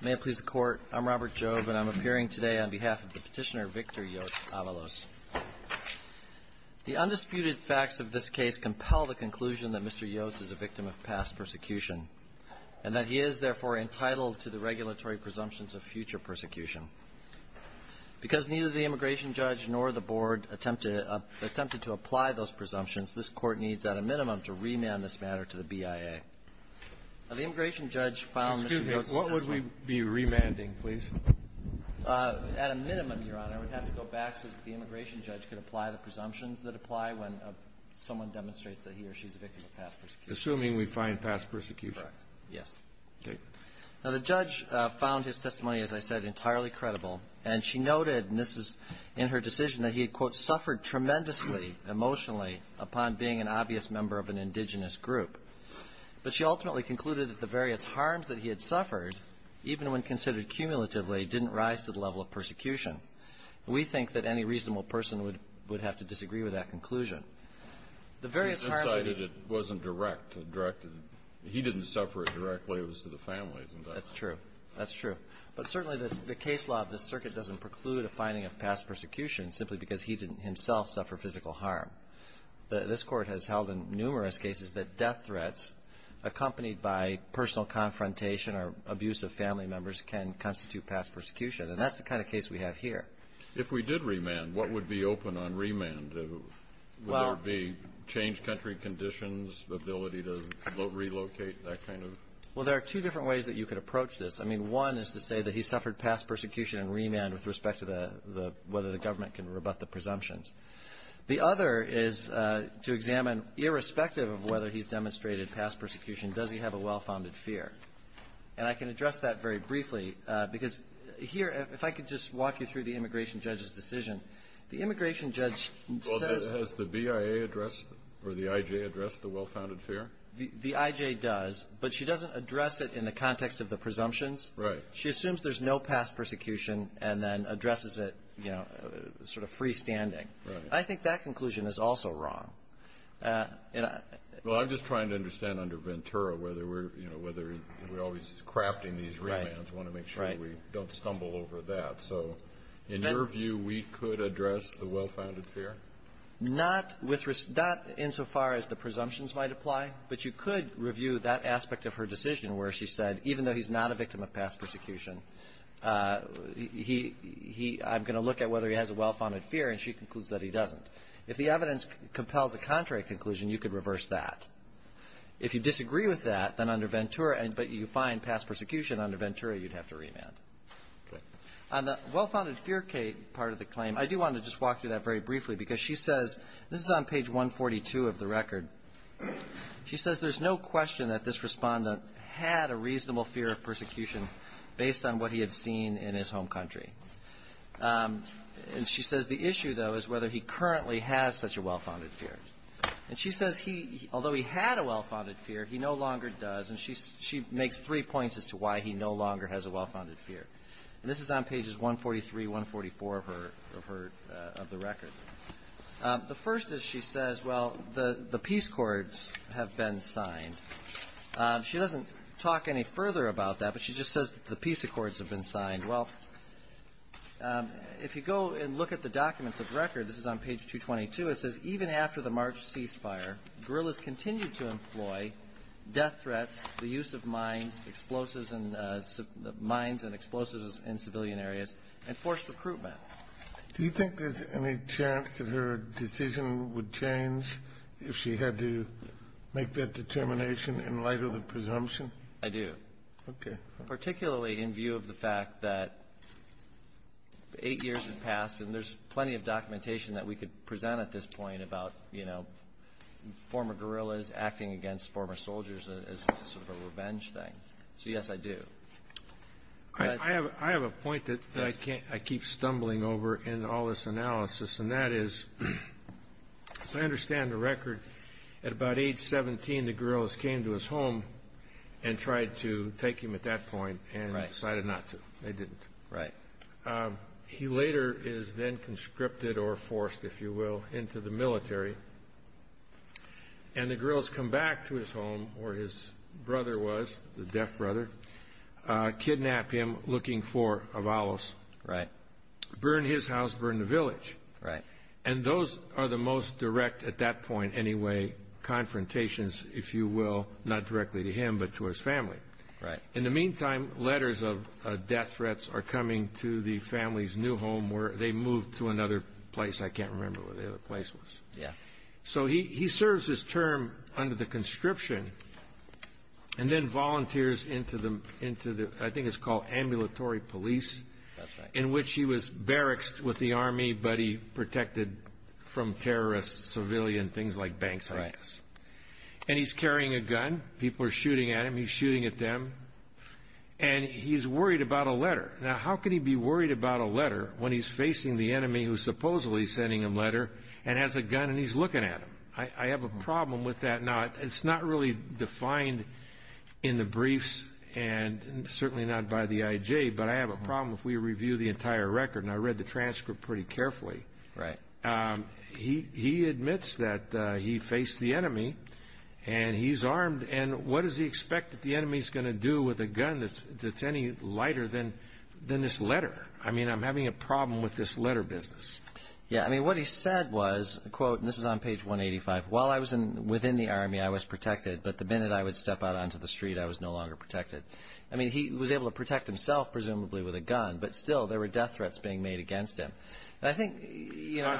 May it please the Court, I'm Robert Jobe and I'm appearing today on behalf of Petitioner Victor Yotz-Avalos. The undisputed facts of this case compel the conclusion that Mr. Yotz is a victim of past persecution and that he is, therefore, entitled to the regulatory presumptions of future persecution. Because neither the immigration judge nor the Board attempted to apply those presumptions, this Court needs, at a minimum, to remand this matter to the BIA. Okay. Now, the immigration judge found Mr. Yotz's testimony Excuse me, what would we be remanding, please? At a minimum, Your Honor, we'd have to go back so that the immigration judge could apply the presumptions that apply when someone demonstrates that he or she is a victim of past persecution. Assuming we find past persecution. Correct. Yes. Okay. Now, the judge found his testimony, as I said, entirely credible. And she noted, and this is in her decision, that he had, quote, suffered tremendously emotionally upon being an obvious member of an indigenous group. But she ultimately concluded that the various harms that he had suffered, even when considered cumulatively, didn't rise to the level of persecution. And we think that any reasonable person would have to disagree with that conclusion. The various harms that he had He decided it wasn't direct. It directed it He didn't suffer it directly. It was to the family, isn't it? That's true. That's true. But certainly, the case law of this circuit doesn't preclude a finding of past persecution simply because he didn't himself suffer physical harm. This Court has held in numerous cases that death threats, accompanied by personal confrontation or abuse of family members, can constitute past persecution. And that's the kind of case we have here. If we did remand, what would be open on remand? Would there be changed country conditions, the ability to relocate, that kind of? Well, there are two different ways that you could approach this. I mean, one is to say that he suffered past persecution and remand with respect to whether the government can rebut the presumptions. The other is to examine, irrespective of whether he's demonstrated past persecution, does he have a well-founded fear? And I can address that very briefly because here, if I could just walk you through the immigration judge's decision, the immigration judge says Well, has the BIA addressed or the IJ addressed the well-founded fear? The IJ does, but she doesn't address it in the context of the presumptions. Right. She assumes there's no past persecution and then addresses it, you know, sort of freestanding. Right. I think that conclusion is also wrong. And I Well, I'm just trying to understand under Ventura whether we're, you know, whether we're always crafting these remands. Right. We want to make sure we don't stumble over that. So in your view, we could address the well-founded fear? Not with respect to that insofar as the presumptions might apply, but you could review that aspect of her decision where she said, even though he's not a victim of past persecution, he, he, I'm going to look at whether he has a well-founded fear. And she concludes that he doesn't. If the evidence compels a contrary conclusion, you could reverse that. If you disagree with that, then under Ventura, but you find past persecution under Ventura, you'd have to remand. Okay. On the well-founded fear part of the claim, I do want to just walk through that very briefly because she says, this is on page 142 of the record. She says, there's no question that this respondent had a reasonable fear of persecution based on what he had seen in his home country. And she says the issue, though, is whether he currently has such a well-founded fear. And she says he, although he had a well-founded fear, he no longer does. And she, she makes three points as to why he no longer has a well-founded fear. And this is on pages 143, 144 of her, of her, of the record. The first is she says, well, the, the peace accords have been signed. She doesn't talk any further about that, but she just says the peace accords have been signed. Well, if you go and look at the documents of record, this is on page 222, it says, even after the March ceasefire, guerrillas continued to employ death threats, the use of mines, explosives and, mines and explosives in civilian areas, and forced recruitment. Do you think there's any chance that her decision would change if she had to make that determination in light of the presumption? I do. Okay. Particularly in view of the fact that eight years have passed, and there's plenty of documentation that we could present at this point about, you know, former guerrillas acting against former soldiers as sort of a revenge thing. So, yes, I do. I have, I have a point that I can't, I keep stumbling over in all this analysis, and that is, as I understand the record, at about age 17, the guerrillas came to his home and tried to take him at that point and decided not to. They didn't. Right. He later is then conscripted or forced, if you will, into the military, and the guerrillas come back to his home, where his brother was, the deaf brother, kidnap him, looking for Avalos. Right. Burn his house, burn the village. Right. And those are the most direct, at that point anyway, confrontations, if you will, not directly to him, but to his family. Right. In the meantime, letters of death threats are coming to the family's new home where they moved to another place. I can't remember where the other place was. Yeah. So he serves his term under the conscription and then volunteers into the, I think it's called ambulatory police. That's right. In which he was barracks with the army, but he protected from terrorists, civilian, things like banks. Right. And he's carrying a gun. People are shooting at him. He's shooting at them. And he's worried about a letter. Now, how can he be worried about a letter when he's facing the enemy who's supposedly sending him a letter and has a gun and he's looking at him? I have a problem with that. Now, it's not really defined in the briefs and certainly not by the IJ, but I have a problem if we review the entire record. And I read the transcript pretty carefully. Right. He admits that he faced the enemy and he's armed. And what does he expect that the enemy is going to do with a gun that's any lighter than this letter? I mean, I'm having a problem with this letter business. Yeah. I mean, what he said was, quote, and this is on page 185. While I was in within the army, I was protected. But the minute I would step out onto the street, I was no longer protected. I mean, he was able to protect himself, presumably with a gun. But still, there were death threats being made against him. And I think, you know,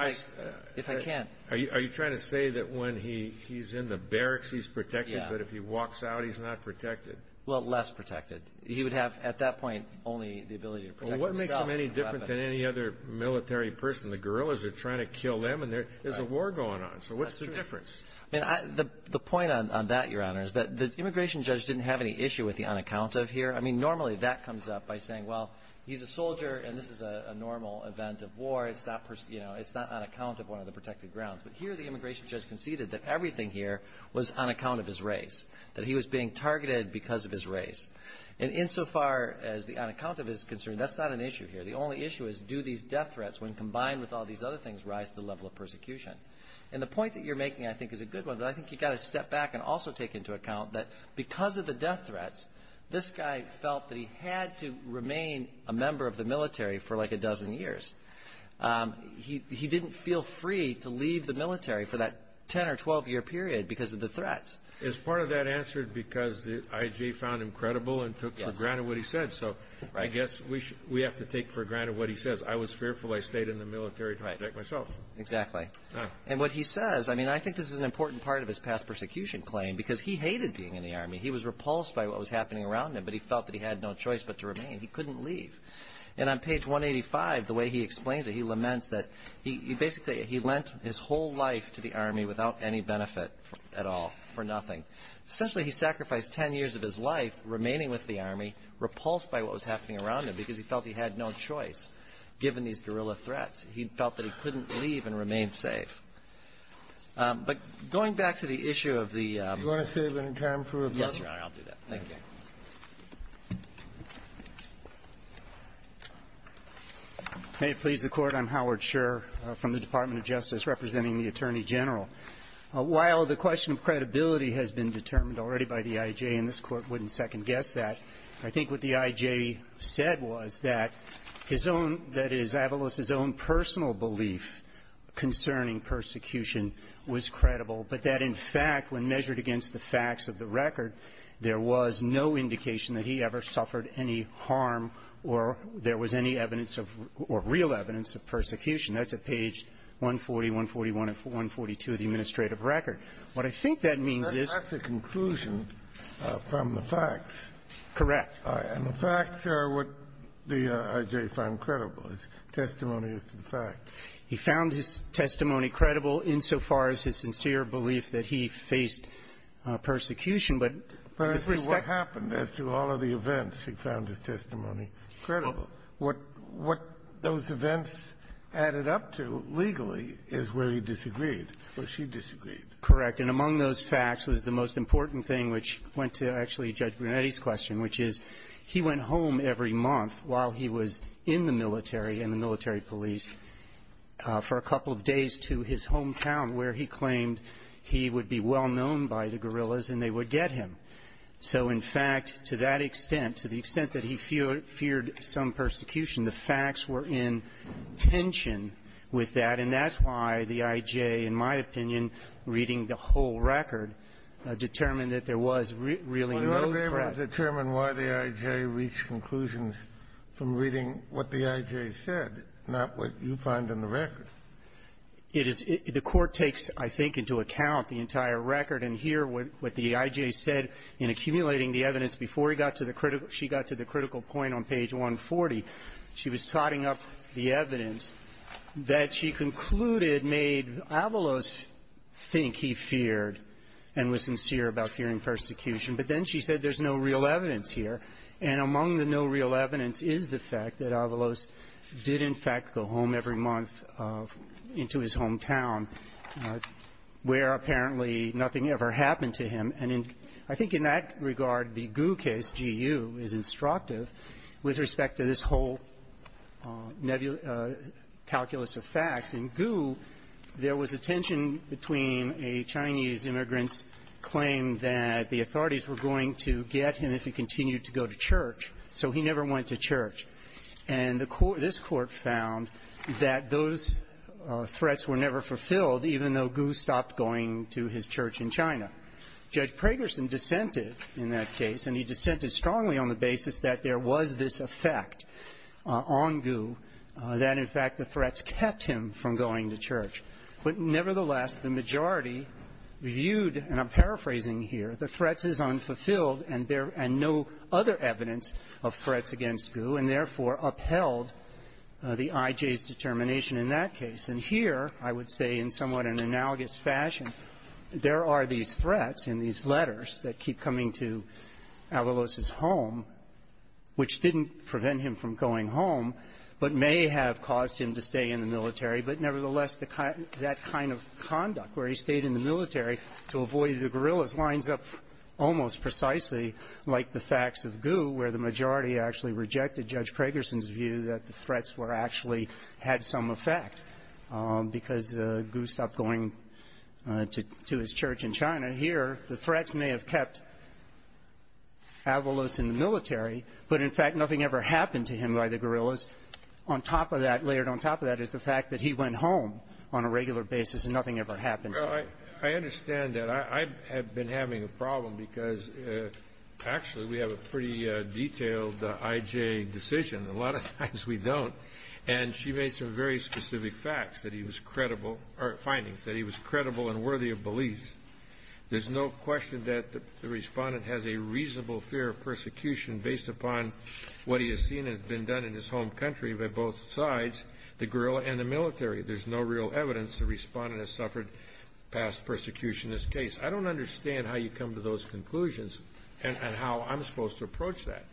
if I can't. Are you trying to say that when he he's in the barracks, he's protected? But if he walks out, he's not protected? Well, less protected. He would have at that point only the ability to protect himself. Any other military person, the guerrillas are trying to kill them and there is a war going on. So what's the difference? And the point on that, Your Honor, is that the immigration judge didn't have any issue with the unaccounted here. I mean, normally that comes up by saying, well, he's a soldier and this is a normal event of war. It's not, you know, it's not on account of one of the protected grounds. But here the immigration judge conceded that everything here was on account of his race, that he was being targeted because of his race. And insofar as the unaccounted is concerned, that's not an issue here. The only issue is, do these death threats, when combined with all these other things, rise to the level of persecution? And the point that you're making, I think, is a good one. But I think you've got to step back and also take into account that because of the death threats, this guy felt that he had to remain a member of the military for like a dozen years. He didn't feel free to leave the military for that 10 or 12-year period because of the threats. Is part of that answered because the I.G. found him credible and took for granted what he said? So I guess we have to take for granted what he says. I was fearful. I stayed in the military to protect myself. Exactly. And what he says, I mean, I think this is an important part of his past persecution claim because he hated being in the Army. He was repulsed by what was happening around him, but he felt that he had no choice but to remain. He couldn't leave. And on page 185, the way he explains it, he laments that he basically, he lent his whole life to the Army without any benefit at all, for nothing. Essentially, he sacrificed 10 years of his life remaining with the Army, repulsed by what was happening around him because he felt he had no choice given these guerrilla threats. He felt that he couldn't leave and remain safe. But going back to the issue of the ---- Do you want to save any time for rebuttal? Yes, Your Honor. I'll do that. Thank you. May it please the Court. I'm Howard Scherr from the Department of Justice representing the Attorney General. While the question of credibility has been determined already by the I.J. and this Court wouldn't second-guess that, I think what the I.J. said was that his own, that is, Avalos' own personal belief concerning persecution was credible, but that, in fact, when measured against the facts of the record, there was no indication that he ever suffered any harm or there was any evidence of or real evidence of persecution. That's at page 140, 141 and 142 of the administrative record. What I think that means is ---- That's a conclusion from the facts. Correct. And the facts are what the I.J. found credible, his testimony as to the facts. He found his testimony credible insofar as his sincere belief that he faced persecution. But in this respect ---- But I see what happened as to all of the events. He found his testimony credible. What those events added up to, legally, is where he disagreed, where she disagreed. Correct. And among those facts was the most important thing, which went to actually Judge Brunetti's question, which is, he went home every month while he was in the military and the military police for a couple of days to his hometown, where he claimed he would be well-known by the guerrillas and they would get him. So, in fact, to that extent, to the extent that he feared some persecution, the facts were in tension with that. And that's why the I.J., in my opinion, reading the whole record, determined that there was really no threat. Well, you ought to be able to determine why the I.J. reached conclusions from reading what the I.J. said, not what you find in the record. It is ---- The Court takes, I think, into account the entire record. And here, what the I.J. said in accumulating the evidence before he got to the critical ---- she got to the critical point on page 140, she was totting up the evidence that she concluded made Avalos think he feared and was sincere about fearing persecution. But then she said there's no real evidence here. And among the no real evidence is the fact that Avalos did, in fact, go home every month into his hometown, where apparently nothing ever happened to him. And in ---- I think in that regard, the Gu case, G.U., is instructive with respect to this whole nebula ---- calculus of facts. In Gu, there was a tension between a Chinese immigrant's claim that the authorities were going to get him if he continued to go to church, so he never went to church. And the court ---- this Court found that those threats were never fulfilled, even though Gu stopped going to his church in China. Judge Pragerson dissented in that case, and he dissented strongly on the basis that there was this effect on Gu, that, in fact, the threats kept him from going to church. But nevertheless, the majority viewed ---- and I'm paraphrasing here ---- the threats as unfulfilled, and there ---- and no other evidence of threats against Gu, and therefore upheld the I.J.'s determination in that case. And here, I would say, in somewhat an analogous fashion, there are these threats in these letters that keep coming to Avalos' home, which didn't prevent him from going home, but may have caused him to stay in the military. But nevertheless, the kind of ---- that kind of conduct, where he stayed in the military to avoid the guerrillas, lines up almost precisely like the facts of Gu, where the majority actually rejected Judge Pragerson's view that the threats were actually ---- had some effect. Because Gu stopped going to his church in China. Here, the threats may have kept Avalos in the military, but, in fact, nothing ever happened to him by the guerrillas. On top of that, layered on top of that, is the fact that he went home on a regular basis, and nothing ever happened to him. Well, I understand that. I have been having a problem because, actually, we have a pretty detailed I.J. decision. A lot of times, we don't. And she made some very specific facts that he was credible or findings that he was credible and worthy of beliefs. There's no question that the Respondent has a reasonable fear of persecution based upon what he has seen has been done in his home country by both sides, the guerrilla and the military. There's no real evidence the Respondent has suffered. Past persecution is the case. I don't understand how you come to those conclusions and how I'm supposed to approach that.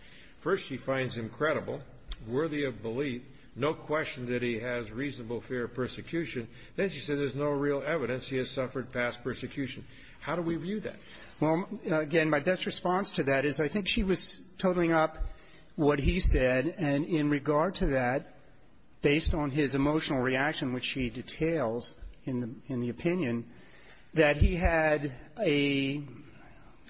First, she finds him credible, worthy of belief. No question that he has reasonable fear of persecution. Then she said there's no real evidence he has suffered past persecution. How do we view that? Well, again, my best response to that is I think she was totaling up what he said. And in regard to that, based on his emotional reaction, which she details in the opinion, that he had a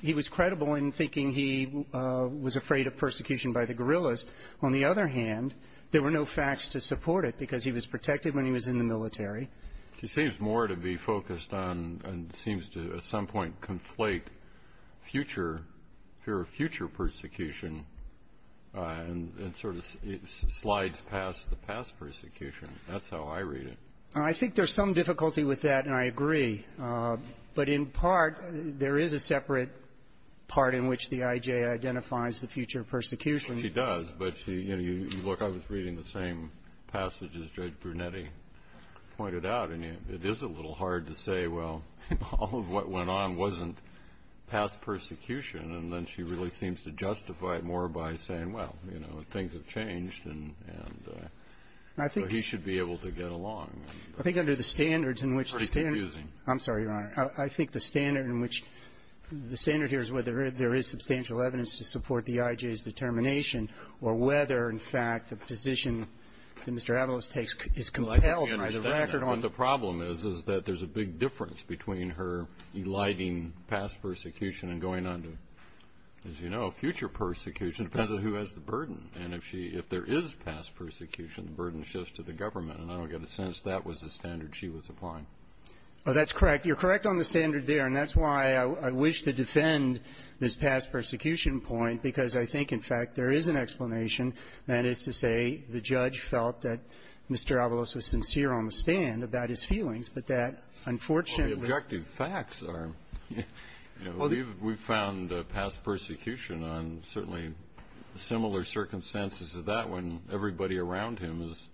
he was credible in thinking he was afraid of persecution by the guerrillas. On the other hand, there were no facts to support it because he was protected when he was in the military. She seems more to be focused on and seems to, at some point, conflate future fear of future persecution and sort of slides past the past persecution. That's how I read it. I think there's some difficulty with that, and I agree. But in part, there is a separate part in which the I.J. identifies the future persecution. She does. But she, you know, you look. I was reading the same passage as Judge Brunetti pointed out. And it is a little hard to say, well, all of what went on wasn't past persecution. And then she really seems to justify it more by saying, well, you know, things have changed, and so he should be able to get along. I think under the standards in which the standard. It's pretty confusing. I'm sorry, Your Honor. I think the standard in which the standard here is whether there is substantial evidence to support the I.J.'s determination or whether, in fact, the position that Mr. Avalos takes is compelled by the record on. Well, I think we understand that. But the problem is, is that there's a big difference between her eliding past persecution and going on to, as you know, future persecution. It depends on who has the burden. And if she if there is past persecution, the burden shifts to the government. And I don't get a sense that was the standard she was applying. Well, that's correct. You're correct on the standard there. And that's why I wish to defend this past persecution point, because I think, in fact, there is an explanation, that is to say, the judge felt that Mr. Avalos was sincere on the stand about his feelings, but that, unfortunately. Well, the objective facts are, you know, we've found past persecution on certainly similar circumstances as that, when everybody around him is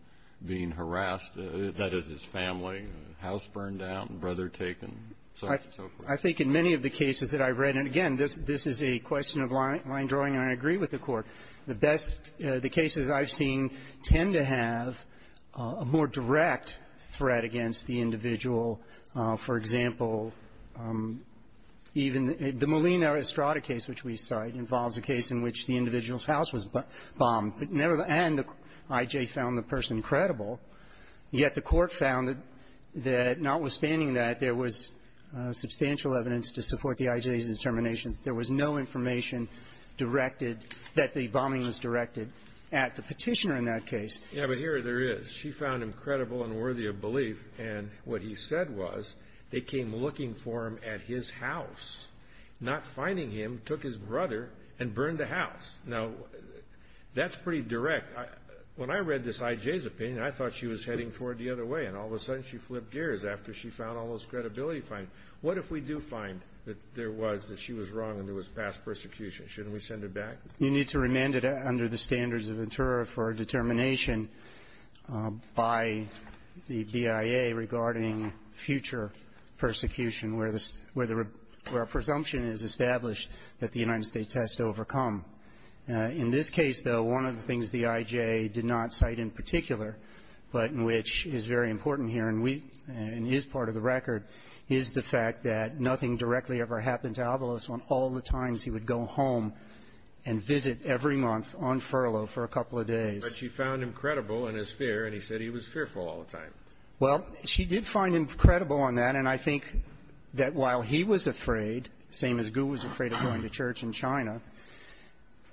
being harassed. That is, his family, house burned down, brother taken, so forth. I think in many of the cases that I've read, and again, this is a question of line drawing, and I agree with the Court, the best the cases I've seen tend to have a more direct threat against the individual. For example, even the Molina Estrada case, which we cite, involves a case in which the individual's house was bombed. And the I.J. found the person credible. Yet the Court found that notwithstanding that, there was substantial evidence to support the I.J.'s determination. There was no information directed that the bombing was directed at the Petitioner in that case. Yeah, but here there is. She found him credible and worthy of belief. And what he said was they came looking for him at his house, not finding him, took his brother and burned the house. Now, that's pretty direct. When I read this I.J.'s opinion, I thought she was heading toward the other way. And all of a sudden, she flipped gears after she found all those credibility findings. What if we do find that there was, that she was wrong and there was past persecution? Shouldn't we send her back? You need to remand it under the standards of intera for a determination by the BIA regarding future persecution, where the presumption is established that the individual in the United States has to overcome. In this case, though, one of the things the I.J. did not cite in particular, but in which is very important here and we, and is part of the record, is the fact that nothing directly ever happened to Avalos on all the times he would go home and visit every month on furlough for a couple of days. But she found him credible in his fear, and he said he was fearful all the time. Well, she did find him credible on that. And I think that while he was afraid, same as Gu was afraid of going to church in China,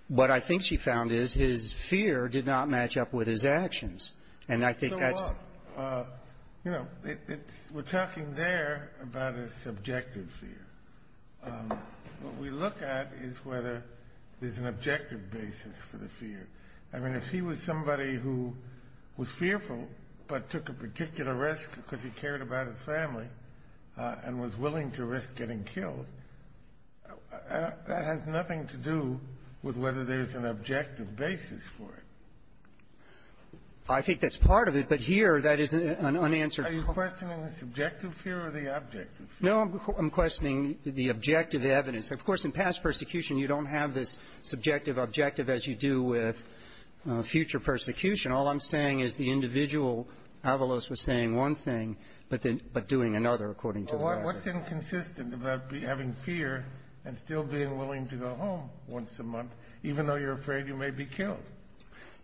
what I think she found is his fear did not match up with his actions. And I think that's So what? You know, it's, we're talking there about a subjective fear. What we look at is whether there's an objective basis for the fear. I mean, if he was somebody who was fearful but took a particular risk because he cared about his family and was willing to risk getting killed, that has nothing to do with whether there's an objective basis for it. I think that's part of it, but here that is an unanswered question. Are you questioning the subjective fear or the objective fear? No, I'm questioning the objective evidence. Of course, in past persecution, you don't have this subjective objective as you do with future persecution. All I'm saying is the individual, Avalos, was saying one thing, but then, but doing another, according to the record. Well, what's inconsistent about having fear and still being willing to go home once a month, even though you're afraid you may be killed?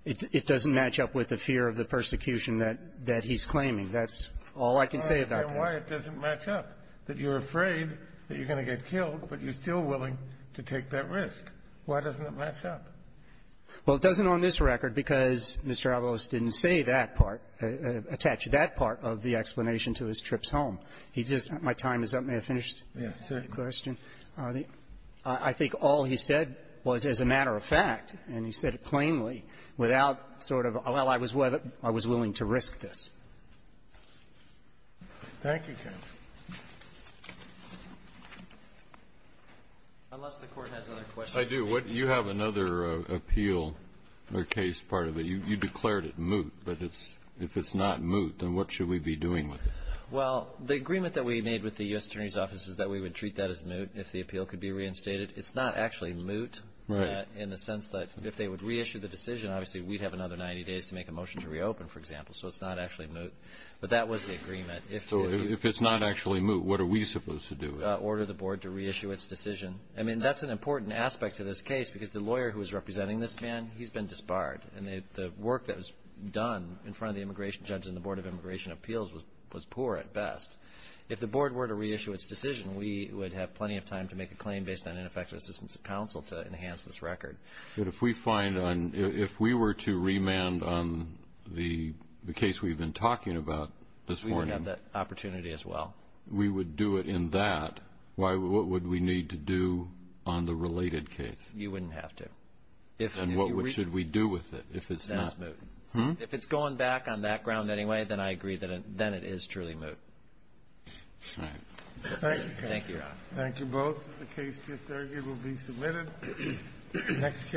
It doesn't match up with the fear of the persecution that he's claiming. That's all I can say about that. I don't understand why it doesn't match up, that you're afraid that you're going to get killed, but you're still willing to take that risk. Why doesn't it match up? Well, it doesn't on this record because Mr. Avalos didn't say that part, attach that part of the explanation to his trips home. He just my time is up. May I finish? Yes, sir. I think all he said was, as a matter of fact, and he said it plainly, without sort of, well, I was willing to risk this. Thank you, counsel. Unless the Court has other questions. I do. You have another appeal or case part of it. You declared it moot, but if it's not moot, then what should we be doing with it? Well, the agreement that we made with the U.S. Attorney's Office is that we would treat that as moot if the appeal could be reinstated. It's not actually moot in the sense that if they would reissue the decision, obviously, we'd have another 90 days to make a motion to reopen, for example. So it's not actually moot. But that was the agreement. So if it's not actually moot, what are we supposed to do? Order the board to reissue its decision. I mean, that's an important aspect to this case, because the lawyer who is representing this man, he's been disbarred. And the work that was done in front of the immigration judge and the Board of Immigration Appeals was poor at best. If the board were to reissue its decision, we would have plenty of time to make a claim based on ineffective assistance of counsel to enhance this record. But if we find on, if we were to remand on the case we've been talking about this morning. We would have that opportunity as well. We would do it in that. Why, what would we need to do on the related case? You wouldn't have to. If. And what should we do with it? If it's not moot. If it's going back on that ground anyway, then I agree that it, then it is truly moot. All right. Thank you. Thank you, Your Honor. Thank you both. The case just argued will be submitted. Next case.